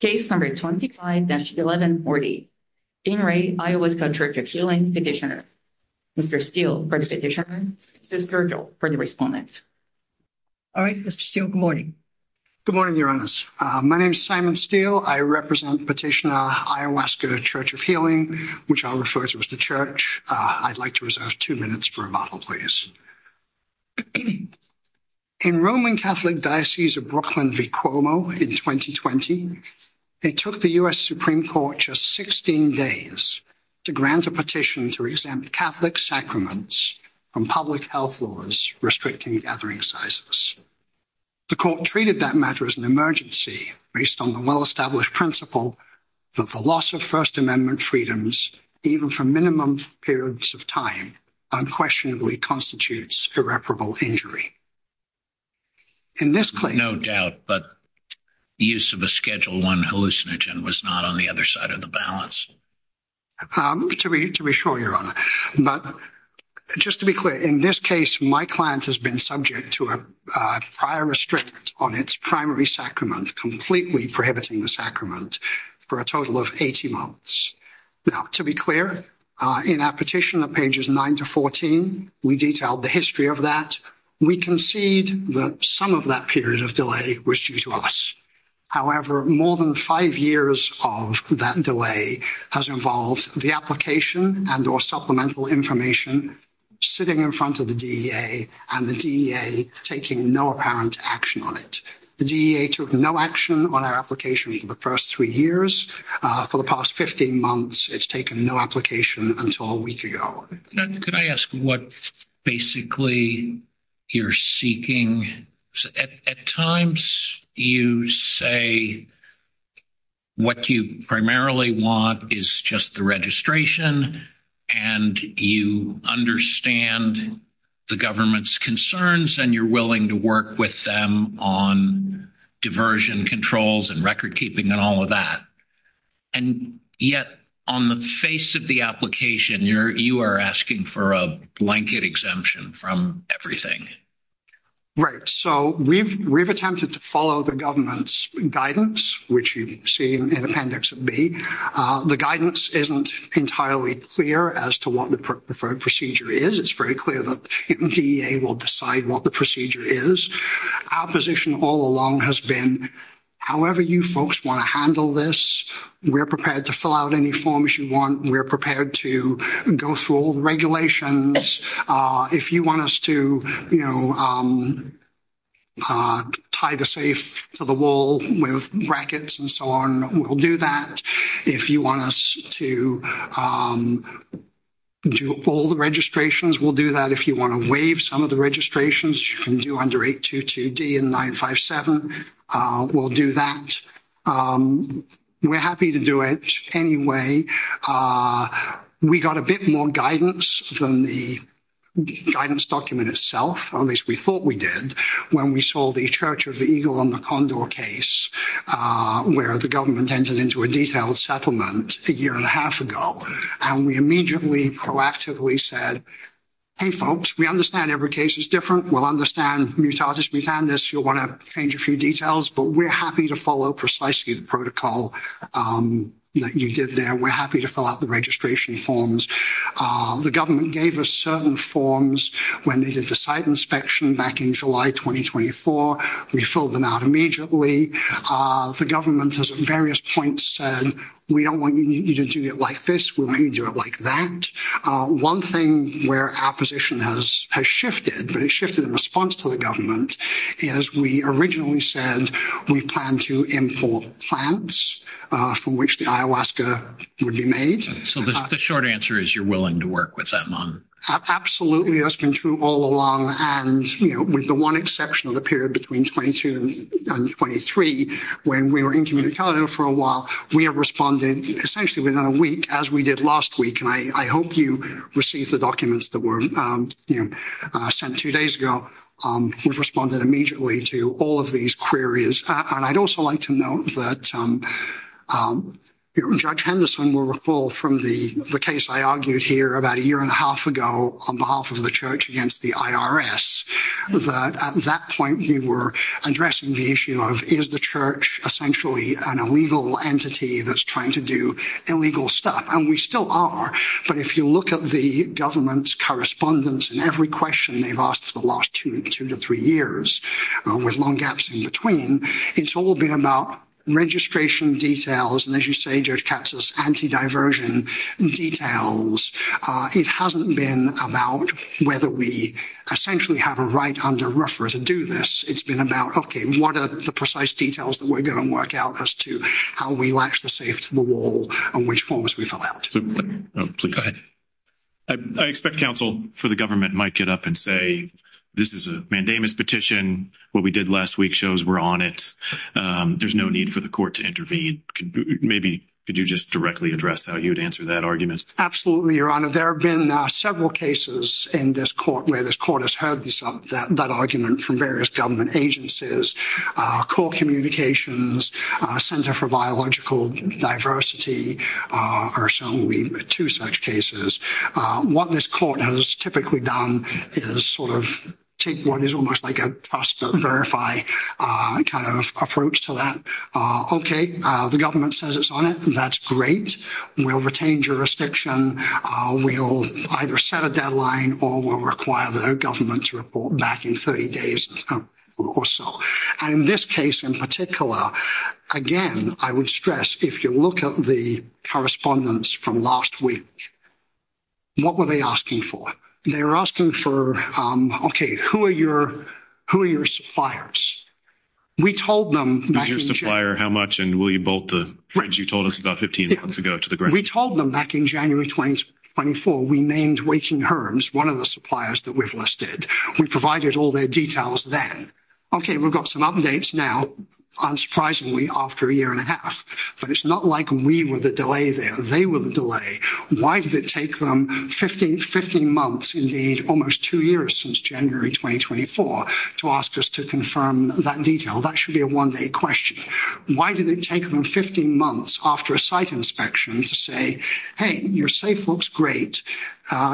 Case number 25-1140. In re, Iowaska Church of Healing petitioner. Mr. Steele for the petitioner, Mr. Scurgill for the respondent. All right, Mr. Steele, good morning. Good morning, Your Honors. My name is Simon Steele. I represent petitioner, Iowaska Church of Healing, which I'll refer to as the church. I'd like to reserve 2 minutes for a bottle, please. In Roman Catholic Diocese of Brooklyn v. Cuomo in 2020, it took the U.S. Supreme Court just 16 days to grant a petition to exempt Catholic sacraments from public health laws restricting gathering sizes. The court treated that matter as an emergency based on the well-established principle that the loss of First Amendment freedoms, even for minimum periods of time, unquestionably constitutes irreparable injury. No doubt, but use of a Schedule I hallucinogen was not on the other side of the balance. To be sure, Your Honor, but just to be clear, in this case, my client has been subject to a prior restrict on its primary sacrament, completely prohibiting the sacrament for a total of 80 months. Now, to be clear, in our petition of pages 9 to 14, we detailed the history of that. We concede that some of that period of delay was due to us. However, more than 5 years of that delay has involved the application and or supplemental information sitting in front of the DEA and the DEA taking no apparent action on it. The DEA took no action on our application for the first three years. For the past 15 months, it's taken no application until a week ago. Could I ask what basically you're seeking? At times, you say what you primarily want is just the registration and you understand the government's concerns and you're willing to work with them on diversion controls and record keeping and all of that. And yet, on the face of the application, you are asking for a blanket exemption from everything. Right. So, we've attempted to follow the government's guidance, which you see in Appendix B. The guidance isn't entirely clear as to what the preferred procedure is. It's very clear that the DEA will decide what the procedure is. Our position all along has been, however you folks want to handle this, we're prepared to fill out any forms you want. We're prepared to go through all the regulations. If you want us to tie the safe to the wall with brackets and so on, we'll do that. If you want us to do all the registrations, we'll do that. If you want to waive some of the registrations, you can do under 822D and 957. We'll do that. We're happy to do it anyway. We got a bit more guidance than the guidance document itself, or at least we thought we did, when we saw the Church of the Eagle on the Condor case, where the government entered into a detailed settlement a year and a half ago. We immediately proactively said, hey, folks, we understand every case is different. We'll understand Mutatis Mutandis. You'll want to change a few details, but we're happy to follow precisely the protocol that you did there. We're happy to fill out the registration forms. The government gave us certain forms when they did the site inspection back in July 2024. We filled them out immediately. The government has at various points said, we don't want you to do it like this. We want you to do it like that. One thing where our position has shifted, but it shifted in response to the government, is we originally said we plan to import plants from which the ayahuasca would be made. So the short answer is you're willing to work with them on? Absolutely, that's been true all along, and with the one exception of the period between 22 and 23, when we were incommunicado for a while, we have responded essentially within a week, as we did last week. And I hope you receive the documents that were sent two days ago. We've responded immediately to all of these queries. And I'd also like to note that Judge Henderson will recall from the case I argued here about a year and a half ago on behalf of the church against the IRS, that at that point we were addressing the issue of, is the church essentially an illegal entity that's trying to do illegal stuff? And we still are. But if you look at the government's correspondence and every question they've asked for the last two to three years, with long gaps in between, it's all been about registration details. And as you say, Judge Katz, it's anti-diversion details. It hasn't been about whether we essentially have a right under rougher to do this. It's been about, okay, what are the precise details that we're going to work out as to how we latch the safe to the wall and which forms we fill out? Go ahead. I expect counsel for the government might get up and say, this is a mandamus petition. What we did last week shows we're on it. There's no need for the court to intervene. Maybe could you just directly address how you would answer that argument? Absolutely, Your Honor. There have been several cases in this court where this court has heard that argument from various government agencies, core communications, Center for Biological Diversity, or so we've had two such cases. What this court has typically done is sort of take what is almost like a trust to verify kind of approach to that. Okay. The government says it's on it. That's great. We'll retain jurisdiction. We'll either set a deadline or we'll require the government to report back in 30 days or so. And in this case, in particular, again, I would stress, if you look at the correspondence from last week, what were they asking for? They were asking for, okay, who are your suppliers? We told them. Your supplier, how much? And will you bolt the fridge you told us about 15 months ago to the ground? We told them back in January 2024, we named Waking Herms, one of the suppliers that we've listed. We provided all their details then. Okay, we've got some updates now, unsurprisingly, after a year and a half, but it's not like we were the delay there. They were the delay. Why did it take them 15 months, indeed, almost two years since January 2024, to ask us to confirm that detail? That should be a one-day question. Why did it take them 15 months after a site inspection to say, hey, your safe looks great.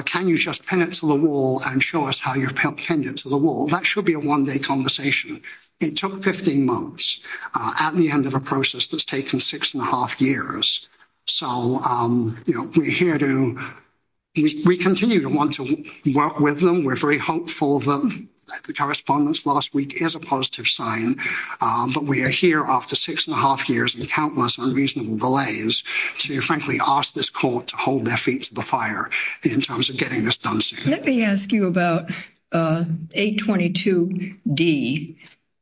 Can you just pin it to the wall and show us how you pinned it to the wall? That should be a one-day conversation. It took 15 months at the end of a process that's taken six and a half years, so we're here to, we continue to want to work with them. We're very hopeful that the correspondence last week is a positive sign, but we are here after six and a half years and countless unreasonable delays to, frankly, ask this court to hold their feet to the fire in terms of getting this done soon. Let me ask you about 822D,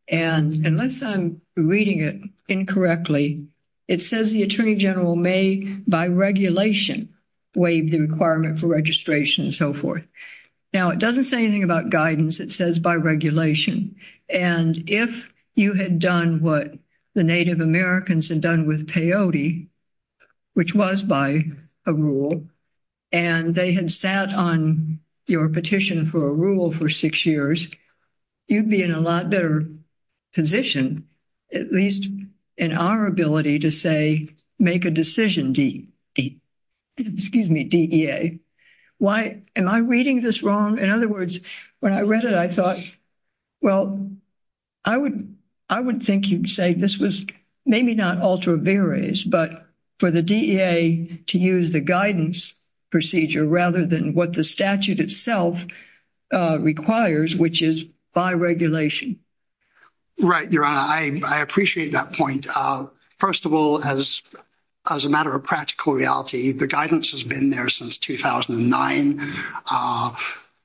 and unless I'm reading it incorrectly, it says the Attorney General may, by regulation, waive the requirement for registration and so forth. Now, it doesn't say anything about guidance. It says by regulation, and if you had done what the Native Americans had done with peyote, which was by a rule, and they had sat on your petition for a rule for six years, you'd be in a lot better position, at least in our ability to say, make a decision, DEA. Why, am I reading this wrong? In other words, when I read it, I thought, well, I would think you'd say this was maybe not ultra viris, but for the DEA to use the guidance procedure rather than what the statute itself requires, which is by regulation. Right, Your Honor, I appreciate that point. First of all, as a matter of practical reality, the guidance has been there since 2009.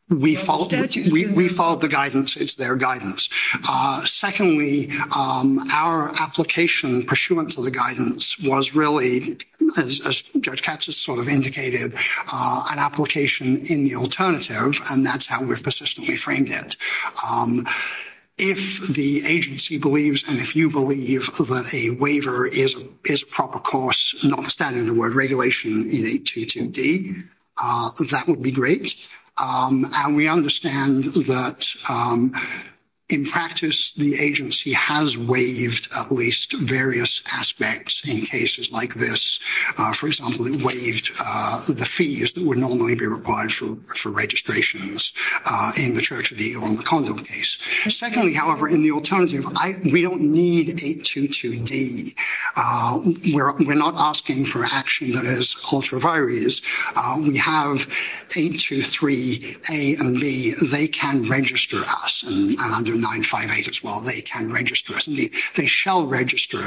We followed the guidance. It's their guidance. Secondly, our application pursuant to the guidance was really, as Judge Katz has sort of indicated, an application in the alternative, and that's how we've persistently framed it. If the agency believes, and if you believe, that a waiver is a proper course, notwithstanding the word regulation in 822D, that would be great, and we understand that in practice the agency has waived at least various aspects in cases like this. For example, it waived the fees that would normally be required for registrations in the Church of the Eagle in the Condon case. Secondly, however, in the alternative, we don't need 822D. We're not asking for action that is ultra viris. We have 823A and B. They can register us, and under 958 as well, they can register us. They shall register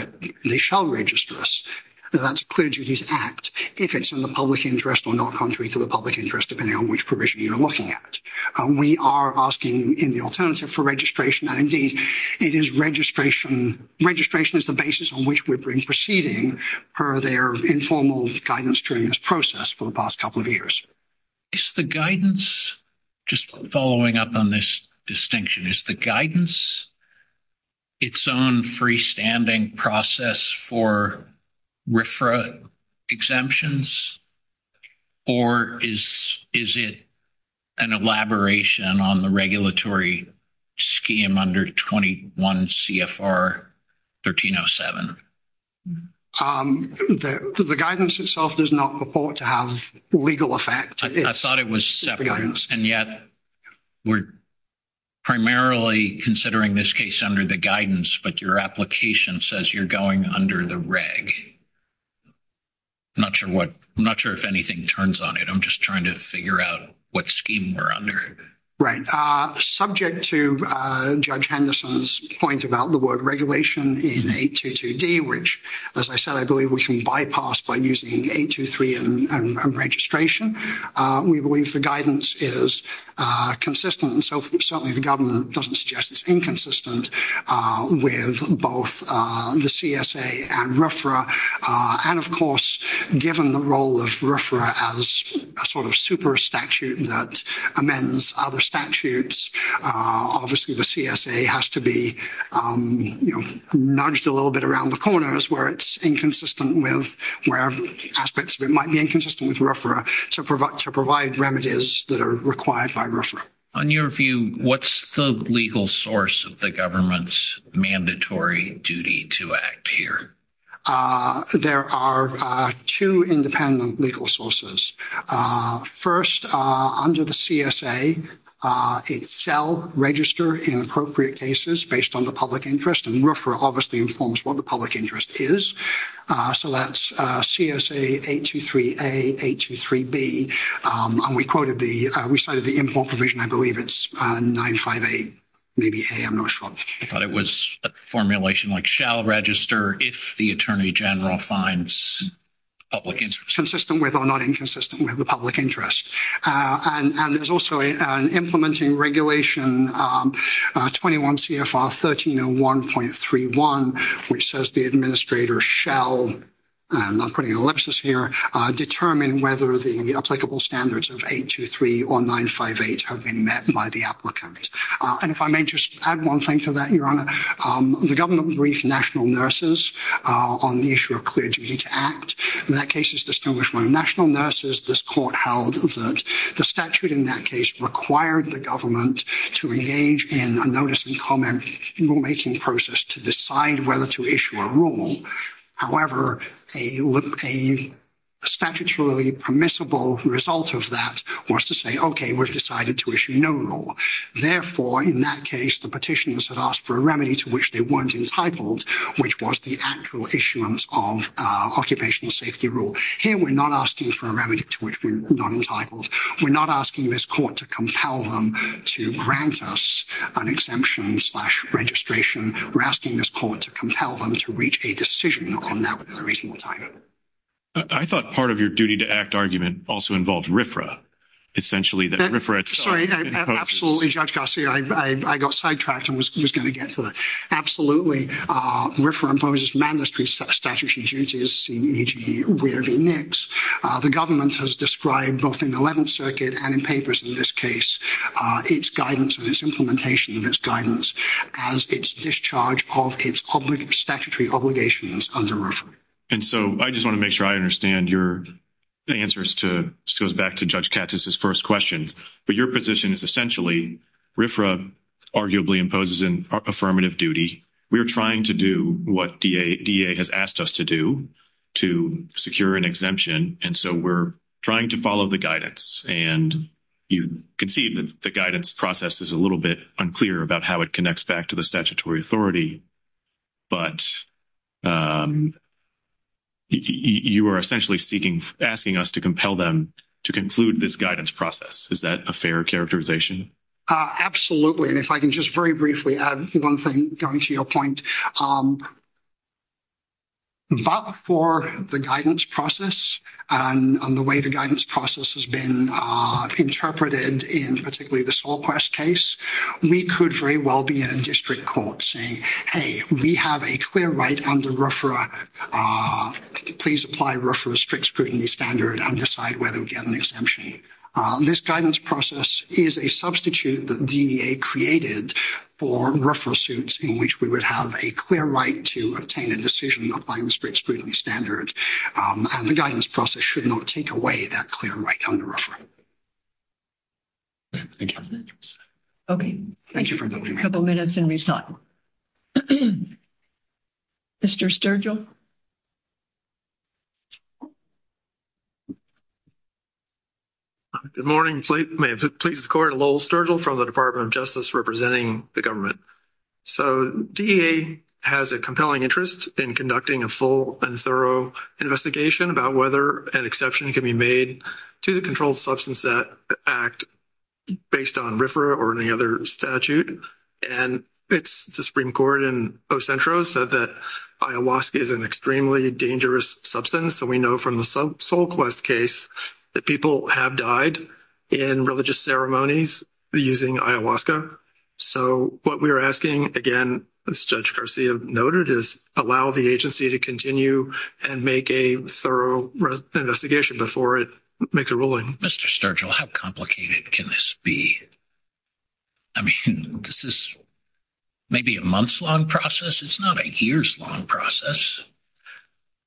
us. That's a clear duties act, if it's in the public interest or not contrary to the public interest, depending on which provision you're looking at. We are asking in the alternative for registration, and indeed, it is registration. Registration is the basis on which we've been proceeding per their informal guidance during this process for the past couple of years. Is the guidance, just following up on this distinction, is the guidance its own freestanding process for RFRA exemptions, or is it an elaboration on the regulatory scheme under 21 CFR 1307? The guidance itself does not purport to have legal effect. I thought it was separate, and yet we're primarily considering this case under the guidance, but your application says you're going under the reg. I'm not sure if anything turns on it. I'm just trying to figure out what scheme we're under. Subject to Judge Henderson's point about the word regulation in 822D, which, as I said, I believe we can bypass by using 823 and registration, we believe the guidance is consistent. Certainly, the government doesn't suggest it's inconsistent with both the CSA and RFRA. Of course, given the role of RFRA as a sort of super statute that amends other statutes, obviously, the CSA has to be nudged a little bit around the corners where it's inconsistent with wherever aspects of it might be inconsistent with RFRA to provide remedies that are required by RFRA. What's the legal source of the government's mandatory duty to act here? There are two independent legal sources. First, under the CSA, it shall register inappropriate cases based on the public interest, and RFRA obviously informs what the public interest is. That's CSA 823A, 823B. We cited the import provision. I believe it's 95A, maybe A. I'm not sure. I thought it was a formulation like shall register if the attorney general finds public interest. Consistent with or not inconsistent with the public interest. There's also an implementing regulation, 21 CFR 1301.31, which says the administrator shall, and I'm putting an ellipsis here, determine whether the applicable standards of 823 or 958 have been met by the applicant. If I may just add one thing to that, Your Honor, the government briefed national nurses on the issue of clear duty to act. That case is distinguished by national nurses. This court held that the statute in that case required the government to engage in a notice and comment rulemaking process to decide whether to issue a rule. However, a statutorily permissible result of that was to say, okay, we've decided to issue no rule. Therefore, in that case, the petitioners had asked for a remedy to which they weren't entitled, which was the actual issuance of occupational safety rule. Here, we're not asking for a remedy to which we're not entitled. We're not asking this court to compel them to grant us an exemption slash registration. We're asking this court to compel them to reach a decision on that within a reasonable time. I thought part of your duty to act argument also involved RFRA. Essentially, that RFRA… Sorry, absolutely, Judge Garcia. I got sidetracked and was going to get to that. RFRA imposes mandatory statutory duties, CEEG, where v. NICS. The government has described both in the Eleventh Circuit and in papers in this case its guidance and its implementation of its guidance as its discharge of its statutory obligations under RFRA. I just want to make sure I understand your answers. This goes back to Judge Katz's first questions. Your position is essentially RFRA arguably imposes an affirmative duty. We're trying to do what DEA has asked us to do to secure an exemption. We're trying to follow the guidance. You can see that the guidance process is a little bit unclear about how it connects back to the statutory authority. But you are essentially asking us to compel them to conclude this guidance process. Is that a fair characterization? Absolutely. And if I can just very briefly add one thing going to your point. But for the guidance process and the way the guidance process has been interpreted in particularly the SolQuest case, we could very well be in a district court saying, hey, we have a clear right under RFRA. Please apply RFRA strict scrutiny standard and decide whether we get an exemption. This guidance process is a substitute that DEA created for RFRA suits in which we would have a clear right to obtain a decision applying the strict scrutiny standard. And the guidance process should not take away that clear right under RFRA. Thank you. Okay. Thank you for a couple of minutes and we have time. Mr. Sturgill. Good morning. May it please the court, Lowell Sturgill from the Department of Justice representing the government. So DEA has a compelling interest in conducting a full and thorough investigation about whether an exception can be made to the Controlled Substance Act based on RFRA or any other statute. And it's the Supreme Court in Ocentro said that ayahuasca is an extremely dangerous substance. So we know from the SolQuest case that people have died in religious ceremonies using ayahuasca. So what we are asking, again, as Judge Garcia noted, is allow the agency to continue and make a thorough investigation before it makes a ruling. Mr. Sturgill, how complicated can this be? I mean, this is maybe a month's long process. It's not a year's long process.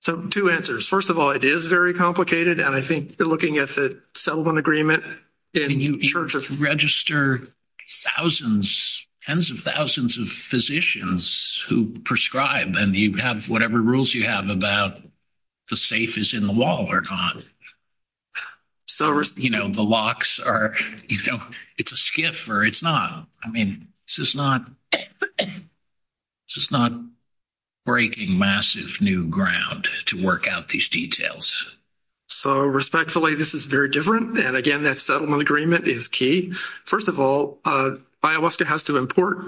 So two answers. First of all, it is very complicated and I think you're looking at the settlement agreement. And you register thousands, tens of thousands of physicians who prescribe and you have whatever rules you have about the safe is in the wall or not. Or, you know, the locks are, you know, it's a skiff or it's not. I mean, this is not breaking massive new ground to work out these details. So respectfully, this is very different. And again, that settlement agreement is key. First of all, ayahuasca has to import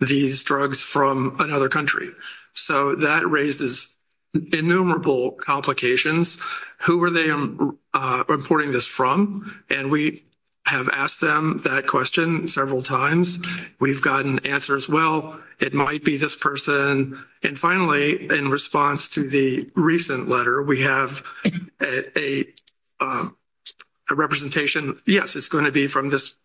these drugs from another country. So that raises innumerable complications. Who are they importing this from? And we have asked them that question several times. We've gotten answers, well, it might be this person. And finally, in response to the recent letter, we have a representation, yes, it's going to be from this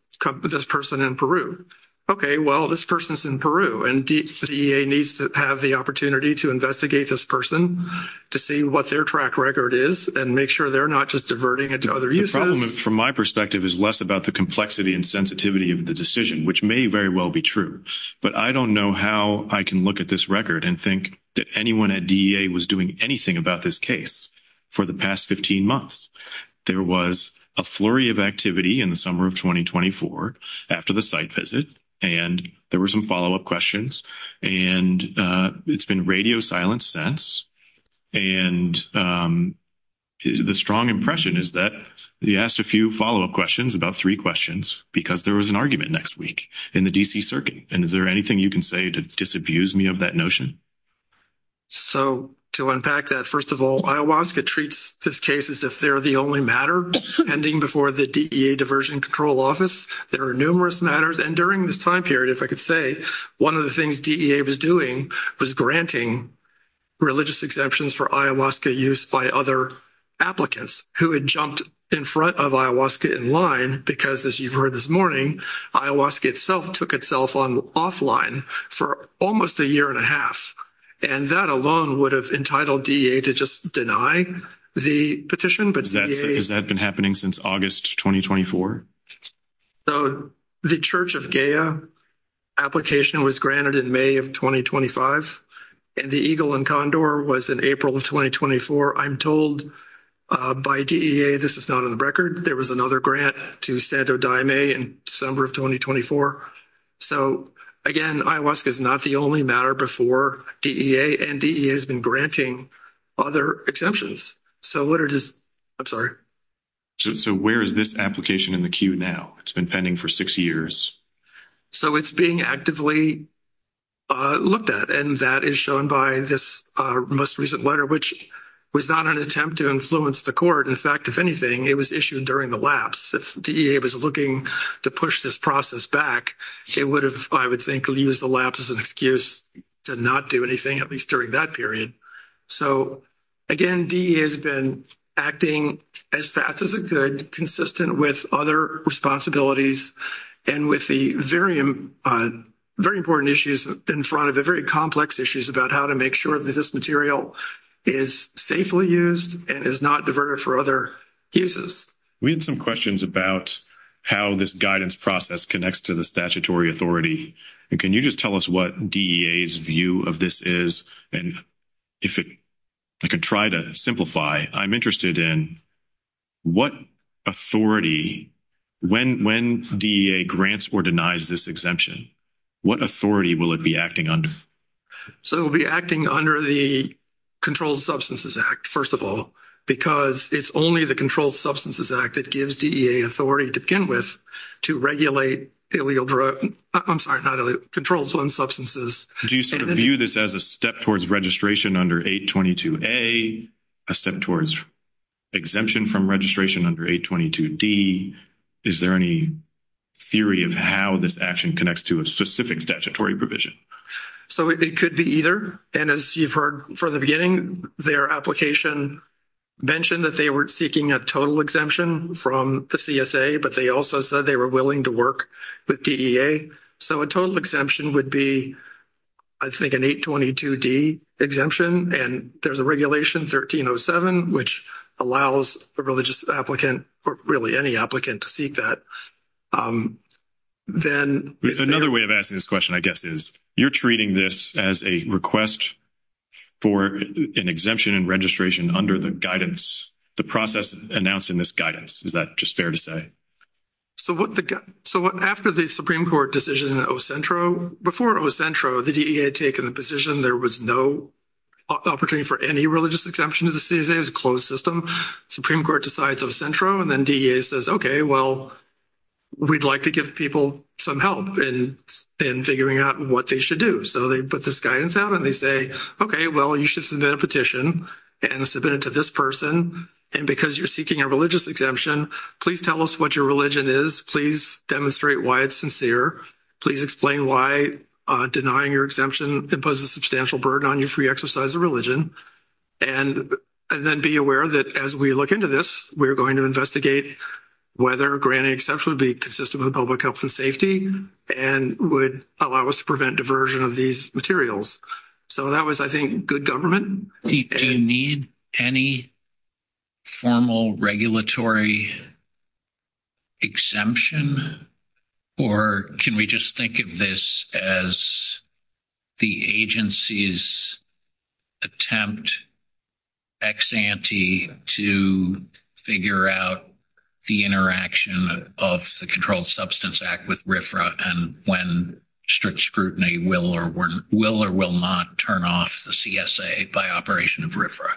person in Peru. Okay, well, this person's in Peru. And DEA needs to have the opportunity to investigate this person to see what their track record is and make sure they're not just diverting it to other uses. The problem, from my perspective, is less about the complexity and sensitivity of the decision, which may very well be true. But I don't know how I can look at this record and think that anyone at DEA was doing anything about this case for the past 15 months. There was a flurry of activity in the summer of 2024 after the site visit. And there were some follow-up questions. And it's been radio silence since. And the strong impression is that we asked a few follow-up questions, about three questions, because there was an argument next week in the D.C. Circuit. And is there anything you can say to disabuse me of that notion? So, to unpack that, first of all, IOWASCA treats this case as if they're the only matter pending before the DEA Diversion Control Office. There are numerous matters. And during this time period, if I could say, one of the things DEA was doing was granting religious exemptions for IOWASCA use by other applicants who had jumped in front of IOWASCA in line. Because, as you've heard this morning, IOWASCA itself took itself offline for almost a year and a half. And that alone would have entitled DEA to just deny the petition. Has that been happening since August 2024? So, the Church of Gaia application was granted in May of 2025. And the Eagle and Condor was in April of 2024. I'm told by DEA this is not on the record. There was another grant to Santo Daime in December of 2024. So, again, IOWASCA is not the only matter before DEA, and DEA has been granting other exemptions. So, what it is – I'm sorry. So, where is this application in the queue now? It's been pending for six years. So, it's being actively looked at. And that is shown by this most recent letter, which was not an attempt to influence the court. In fact, if anything, it was issued during the lapse. If DEA was looking to push this process back, it would have, I would think, used the lapse as an excuse to not do anything, at least during that period. So, again, DEA has been acting as fast as it could, consistent with other responsibilities, and with the very important issues in front of it, very complex issues about how to make sure that this material is safely used and is not diverted for other uses. We had some questions about how this guidance process connects to the statutory authority. And can you just tell us what DEA's view of this is? And if it – I can try to simplify. I'm interested in what authority – when DEA grants or denies this exemption, what authority will it be acting under? So, it will be acting under the Controlled Substances Act, first of all, because it's only the Controlled Substances Act that gives DEA authority to begin with to regulate illegal – I'm sorry, not illegal – controlled substances. Do you sort of view this as a step towards registration under 822A, a step towards exemption from registration under 822D? Is there any theory of how this action connects to a specific statutory provision? So, it could be either. And as you've heard from the beginning, their application mentioned that they were seeking a total exemption from the CSA, but they also said they were willing to work with DEA. So, a total exemption would be, I think, an 822D exemption. And there's a regulation, 1307, which allows a religious applicant or really any applicant to seek that. Another way of asking this question, I guess, is you're treating this as a request for an exemption in registration under the guidance, the process announcing this guidance. Is that just fair to say? So, after the Supreme Court decision in Ocentro, before Ocentro, the DEA had taken the position there was no opportunity for any religious exemption to the CSA, it was a closed system. Supreme Court decides Ocentro and then DEA says, okay, well, we'd like to give people some help in figuring out what they should do. So, they put this guidance out and they say, okay, well, you should submit a petition and submit it to this person. And because you're seeking a religious exemption, please tell us what your religion is. Please demonstrate why it's sincere. Please explain why denying your exemption imposes substantial burden on your free exercise of religion. And then be aware that as we look into this, we're going to investigate whether granting exemption would be consistent with public health and safety and would allow us to prevent diversion of these materials. So, that was, I think, good government. Do you need any formal regulatory exemption? Or can we just think of this as the agency's attempt ex ante to figure out the interaction of the Controlled Substance Act with RFRA and when strict scrutiny will or will not turn off the CSA by operation of RFRA?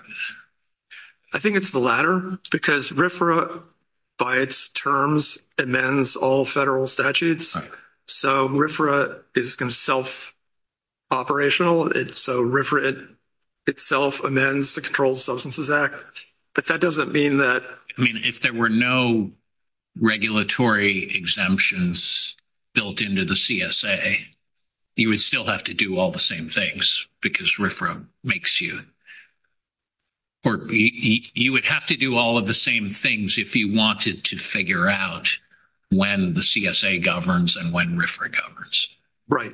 I think it's the latter because RFRA, by its terms, amends all federal statutes. So, RFRA is going to self-operational. So, RFRA itself amends the Controlled Substances Act. But that doesn't mean that... I mean, if there were no regulatory exemptions built into the CSA, you would still have to do all the same things because RFRA makes you. Or you would have to do all of the same things if you wanted to figure out when the CSA governs and when RFRA governs. Right.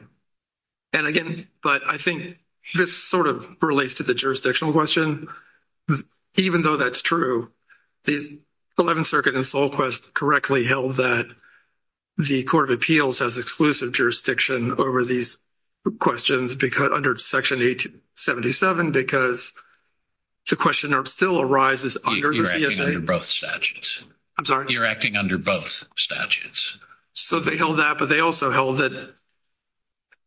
And again, but I think this sort of relates to the jurisdictional question. Even though that's true, the 11th Circuit in Solquest correctly held that the Court of Appeals has exclusive jurisdiction over these questions under Section 877 because the question still arises under the CSA. You're acting under both statutes. I'm sorry? You're acting under both statutes. So, they held that, but they also held that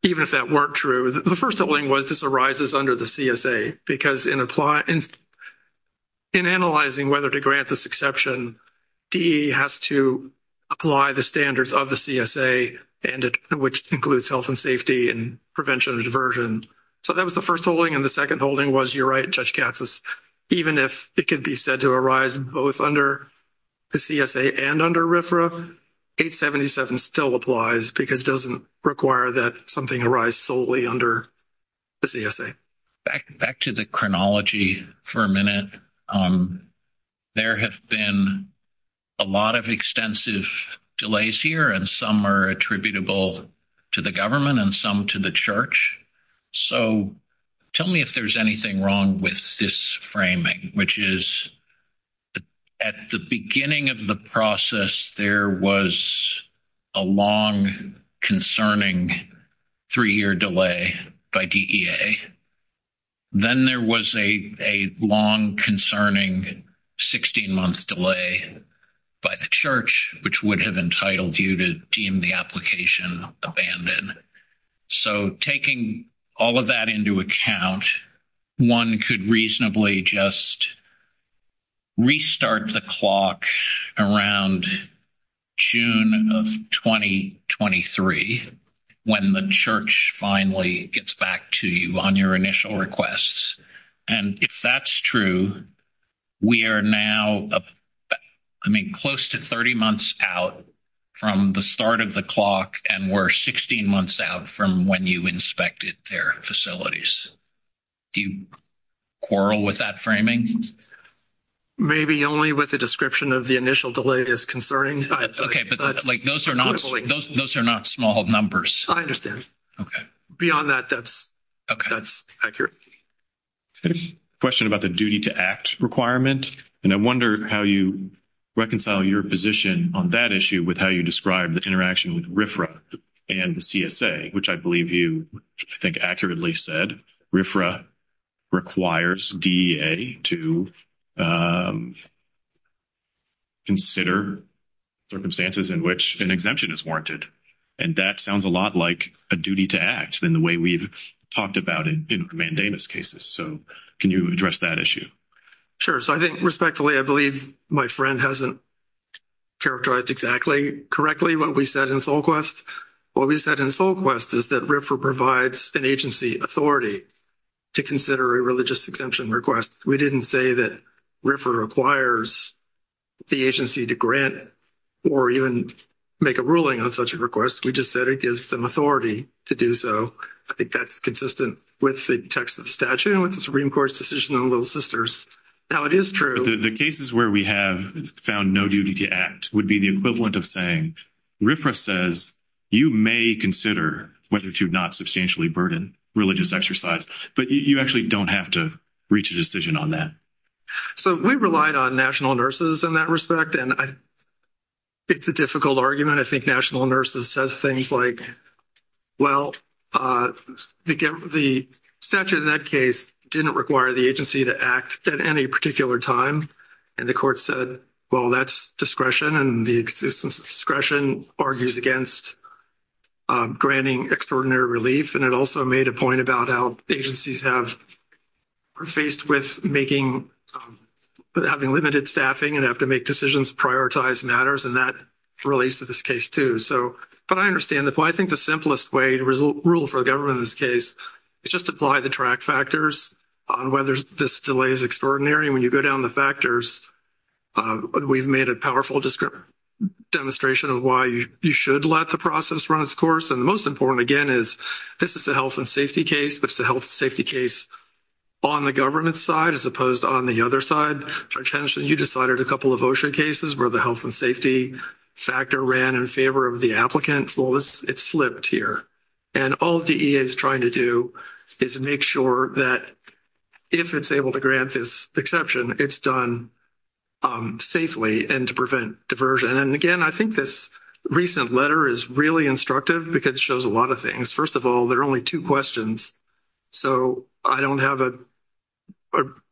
even if that weren't true, the first holding was this arises under the CSA because in analyzing whether to grant this exception, DE has to apply the standards of the CSA, which includes health and safety and prevention of diversion. So, that was the first holding, and the second holding was you're right, Judge Katsas. Even if it could be said to arise both under the CSA and under RFRA, 877 still applies because it doesn't require that something arise solely under the CSA. Back to the chronology for a minute. There have been a lot of extensive delays here, and some are attributable to the government and some to the church. So, tell me if there's anything wrong with this framing, which is at the beginning of the process, there was a long, concerning three-year delay by DEA. Then there was a long, concerning 16-month delay by the church, which would have entitled you to deem the application abandoned. So, taking all of that into account, one could reasonably just restart the clock around June of 2023 when the church finally gets back to you on your initial requests. And if that's true, we are now close to 30 months out from the start of the clock, and we're 16 months out from when you inspected their facilities. Do you quarrel with that framing? Maybe only with the description of the initial delay is concerning. Okay, but those are not small numbers. I understand. Beyond that, that's accurate. I have a question about the duty to act requirement, and I wonder how you reconcile your position on that issue with how you describe the interaction with RFRA and the CSA, which I believe you, I think, accurately said. RFRA requires DEA to consider circumstances in which an exemption is warranted. And that sounds a lot like a duty to act in the way we've talked about in mandamus cases. So, can you address that issue? Sure. So, I think, respectfully, I believe my friend hasn't characterized exactly correctly what we said in SolQuest. What we said in SolQuest is that RFRA provides an agency authority to consider a religious exemption request. We didn't say that RFRA requires the agency to grant or even make a ruling on such a request. We just said it gives them authority to do so. So, I think that's consistent with the text of the statute and with the Supreme Court's decision on Little Sisters. Now, it is true. The cases where we have found no duty to act would be the equivalent of saying RFRA says you may consider whether to not substantially burden religious exercise, but you actually don't have to reach a decision on that. So, we relied on national nurses in that respect, and it's a difficult argument. I think national nurses says things like, well, the statute in that case didn't require the agency to act at any particular time. And the court said, well, that's discretion, and the existence of discretion argues against granting extraordinary relief. And it also made a point about how agencies are faced with having limited staffing and have to make decisions, prioritize matters, and that relates to this case, too. So, but I understand that. Well, I think the simplest way to rule for a government in this case is just apply the track factors on whether this delay is extraordinary. When you go down the factors, we've made a powerful demonstration of why you should let the process run its course. And the most important, again, is this is a health and safety case, but it's a health and safety case on the government side as opposed to on the other side. Judge Henschel, you decided a couple of OSHA cases where the health and safety factor ran in favor of the applicant. Well, it's flipped here. And all DEA is trying to do is make sure that if it's able to grant this exception, it's done safely and to prevent diversion. And, again, I think this recent letter is really instructive because it shows a lot of things. First of all, there are only two questions, so I don't have a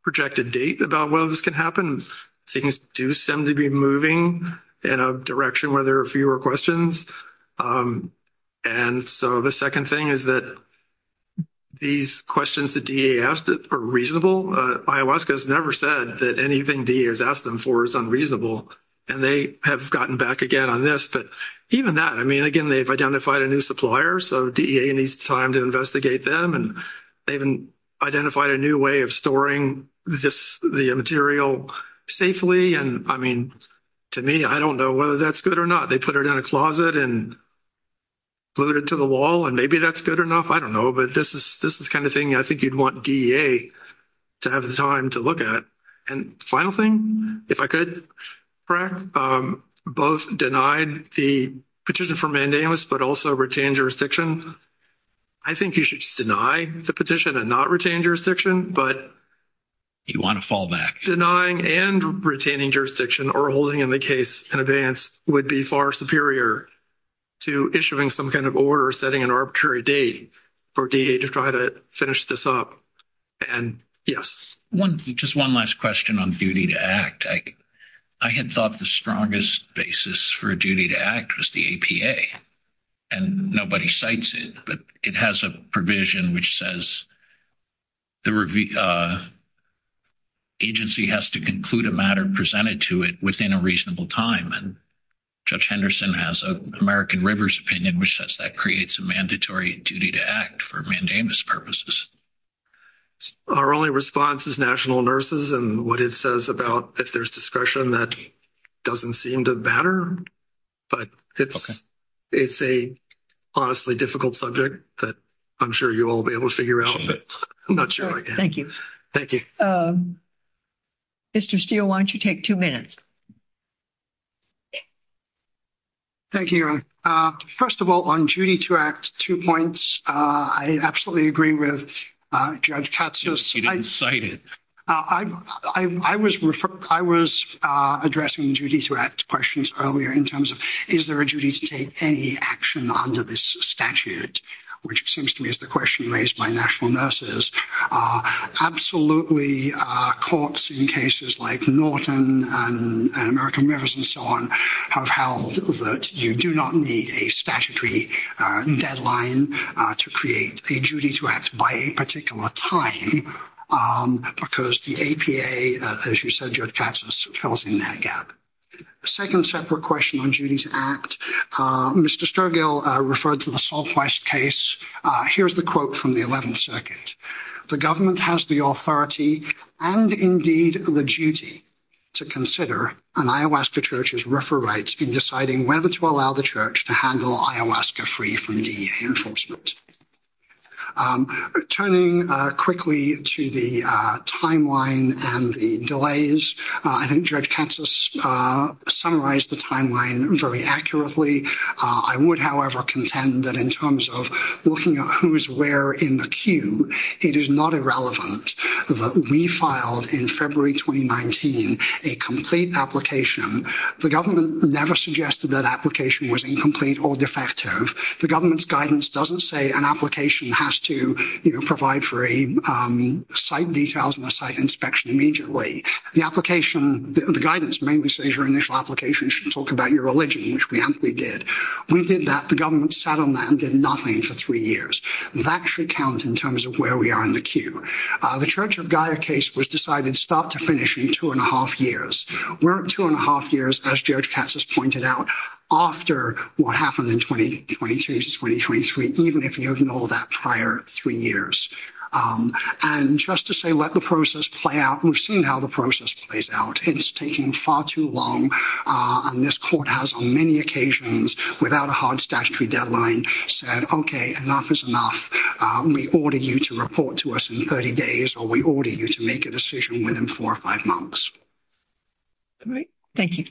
projected date about whether this can happen. Things do seem to be moving in a direction where there are fewer questions. And so the second thing is that these questions that DEA asked are reasonable. IOWASCA has never said that anything DEA has asked them for is unreasonable, and they have gotten back again on this. But even that, I mean, again, they've identified a new supplier, so DEA needs time to investigate them. And they've identified a new way of storing the material safely. And, I mean, to me, I don't know whether that's good or not. They put it in a closet and glued it to the wall, and maybe that's good enough. I don't know. But this is the kind of thing I think you'd want DEA to have the time to look at. And final thing, if I could, Craig, both denied the petition for mandamus, but also retained jurisdiction. I think you should just deny the petition and not retain jurisdiction, but denying and retaining jurisdiction or holding in the case in advance would be far superior to issuing some kind of order or setting an arbitrary date for DEA to try to finish this up. And, yes. Just one last question on duty to act. I had thought the strongest basis for duty to act was the APA, and nobody cites it. But it has a provision which says the agency has to conclude a matter presented to it within a reasonable time. Judge Henderson has an American Rivers opinion which says that creates a mandatory duty to act for mandamus purposes. Our only response is National Nurses and what it says about if there's discretion that doesn't seem to matter. But it's a honestly difficult subject that I'm sure you all will be able to figure out. I'm not sure. Thank you. Thank you. Mr. Steele, why don't you take two minutes? Thank you. First of all, on duty to act, two points. I absolutely agree with Judge Katsos. You didn't cite it. I was addressing duty to act questions earlier in terms of is there a duty to take any action under this statute, which seems to me is the question raised by National Nurses. Absolutely courts in cases like Norton and American Rivers and so on have held that you do not need a statutory deadline to create a duty to act by a particular time. Because the APA, as you said, Judge Katsos, falls in that gap. A second separate question on duty to act. Mr. Sturgill referred to the Salt West case. Here's the quote from the 11th Circuit. The government has the authority and indeed the duty to consider an ayahuasca church's refer rights in deciding whether to allow the church to handle ayahuasca free from DEA enforcement. Turning quickly to the timeline and the delays, I think Judge Katsos summarized the timeline very accurately. I would, however, contend that in terms of looking at who is where in the queue, it is not irrelevant that we filed in February 2019 a complete application. The government never suggested that application was incomplete or defective. The government's guidance doesn't say an application has to provide for a site details and a site inspection immediately. The application, the guidance mainly says your initial application should talk about your religion, which we amply did. We did that. The government sat on that and did nothing for three years. That should count in terms of where we are in the queue. The Church of Gaia case was decided to start to finish in two and a half years. We're at two and a half years, as Judge Katsos pointed out, after what happened in 2023, even if you ignore that prior three years. And just to say let the process play out, we've seen how the process plays out. It's taking far too long. And this court has on many occasions, without a hard statutory deadline, said, okay, enough is enough. We order you to report to us in 30 days or we order you to make a decision within four or five months. All right. Thank you.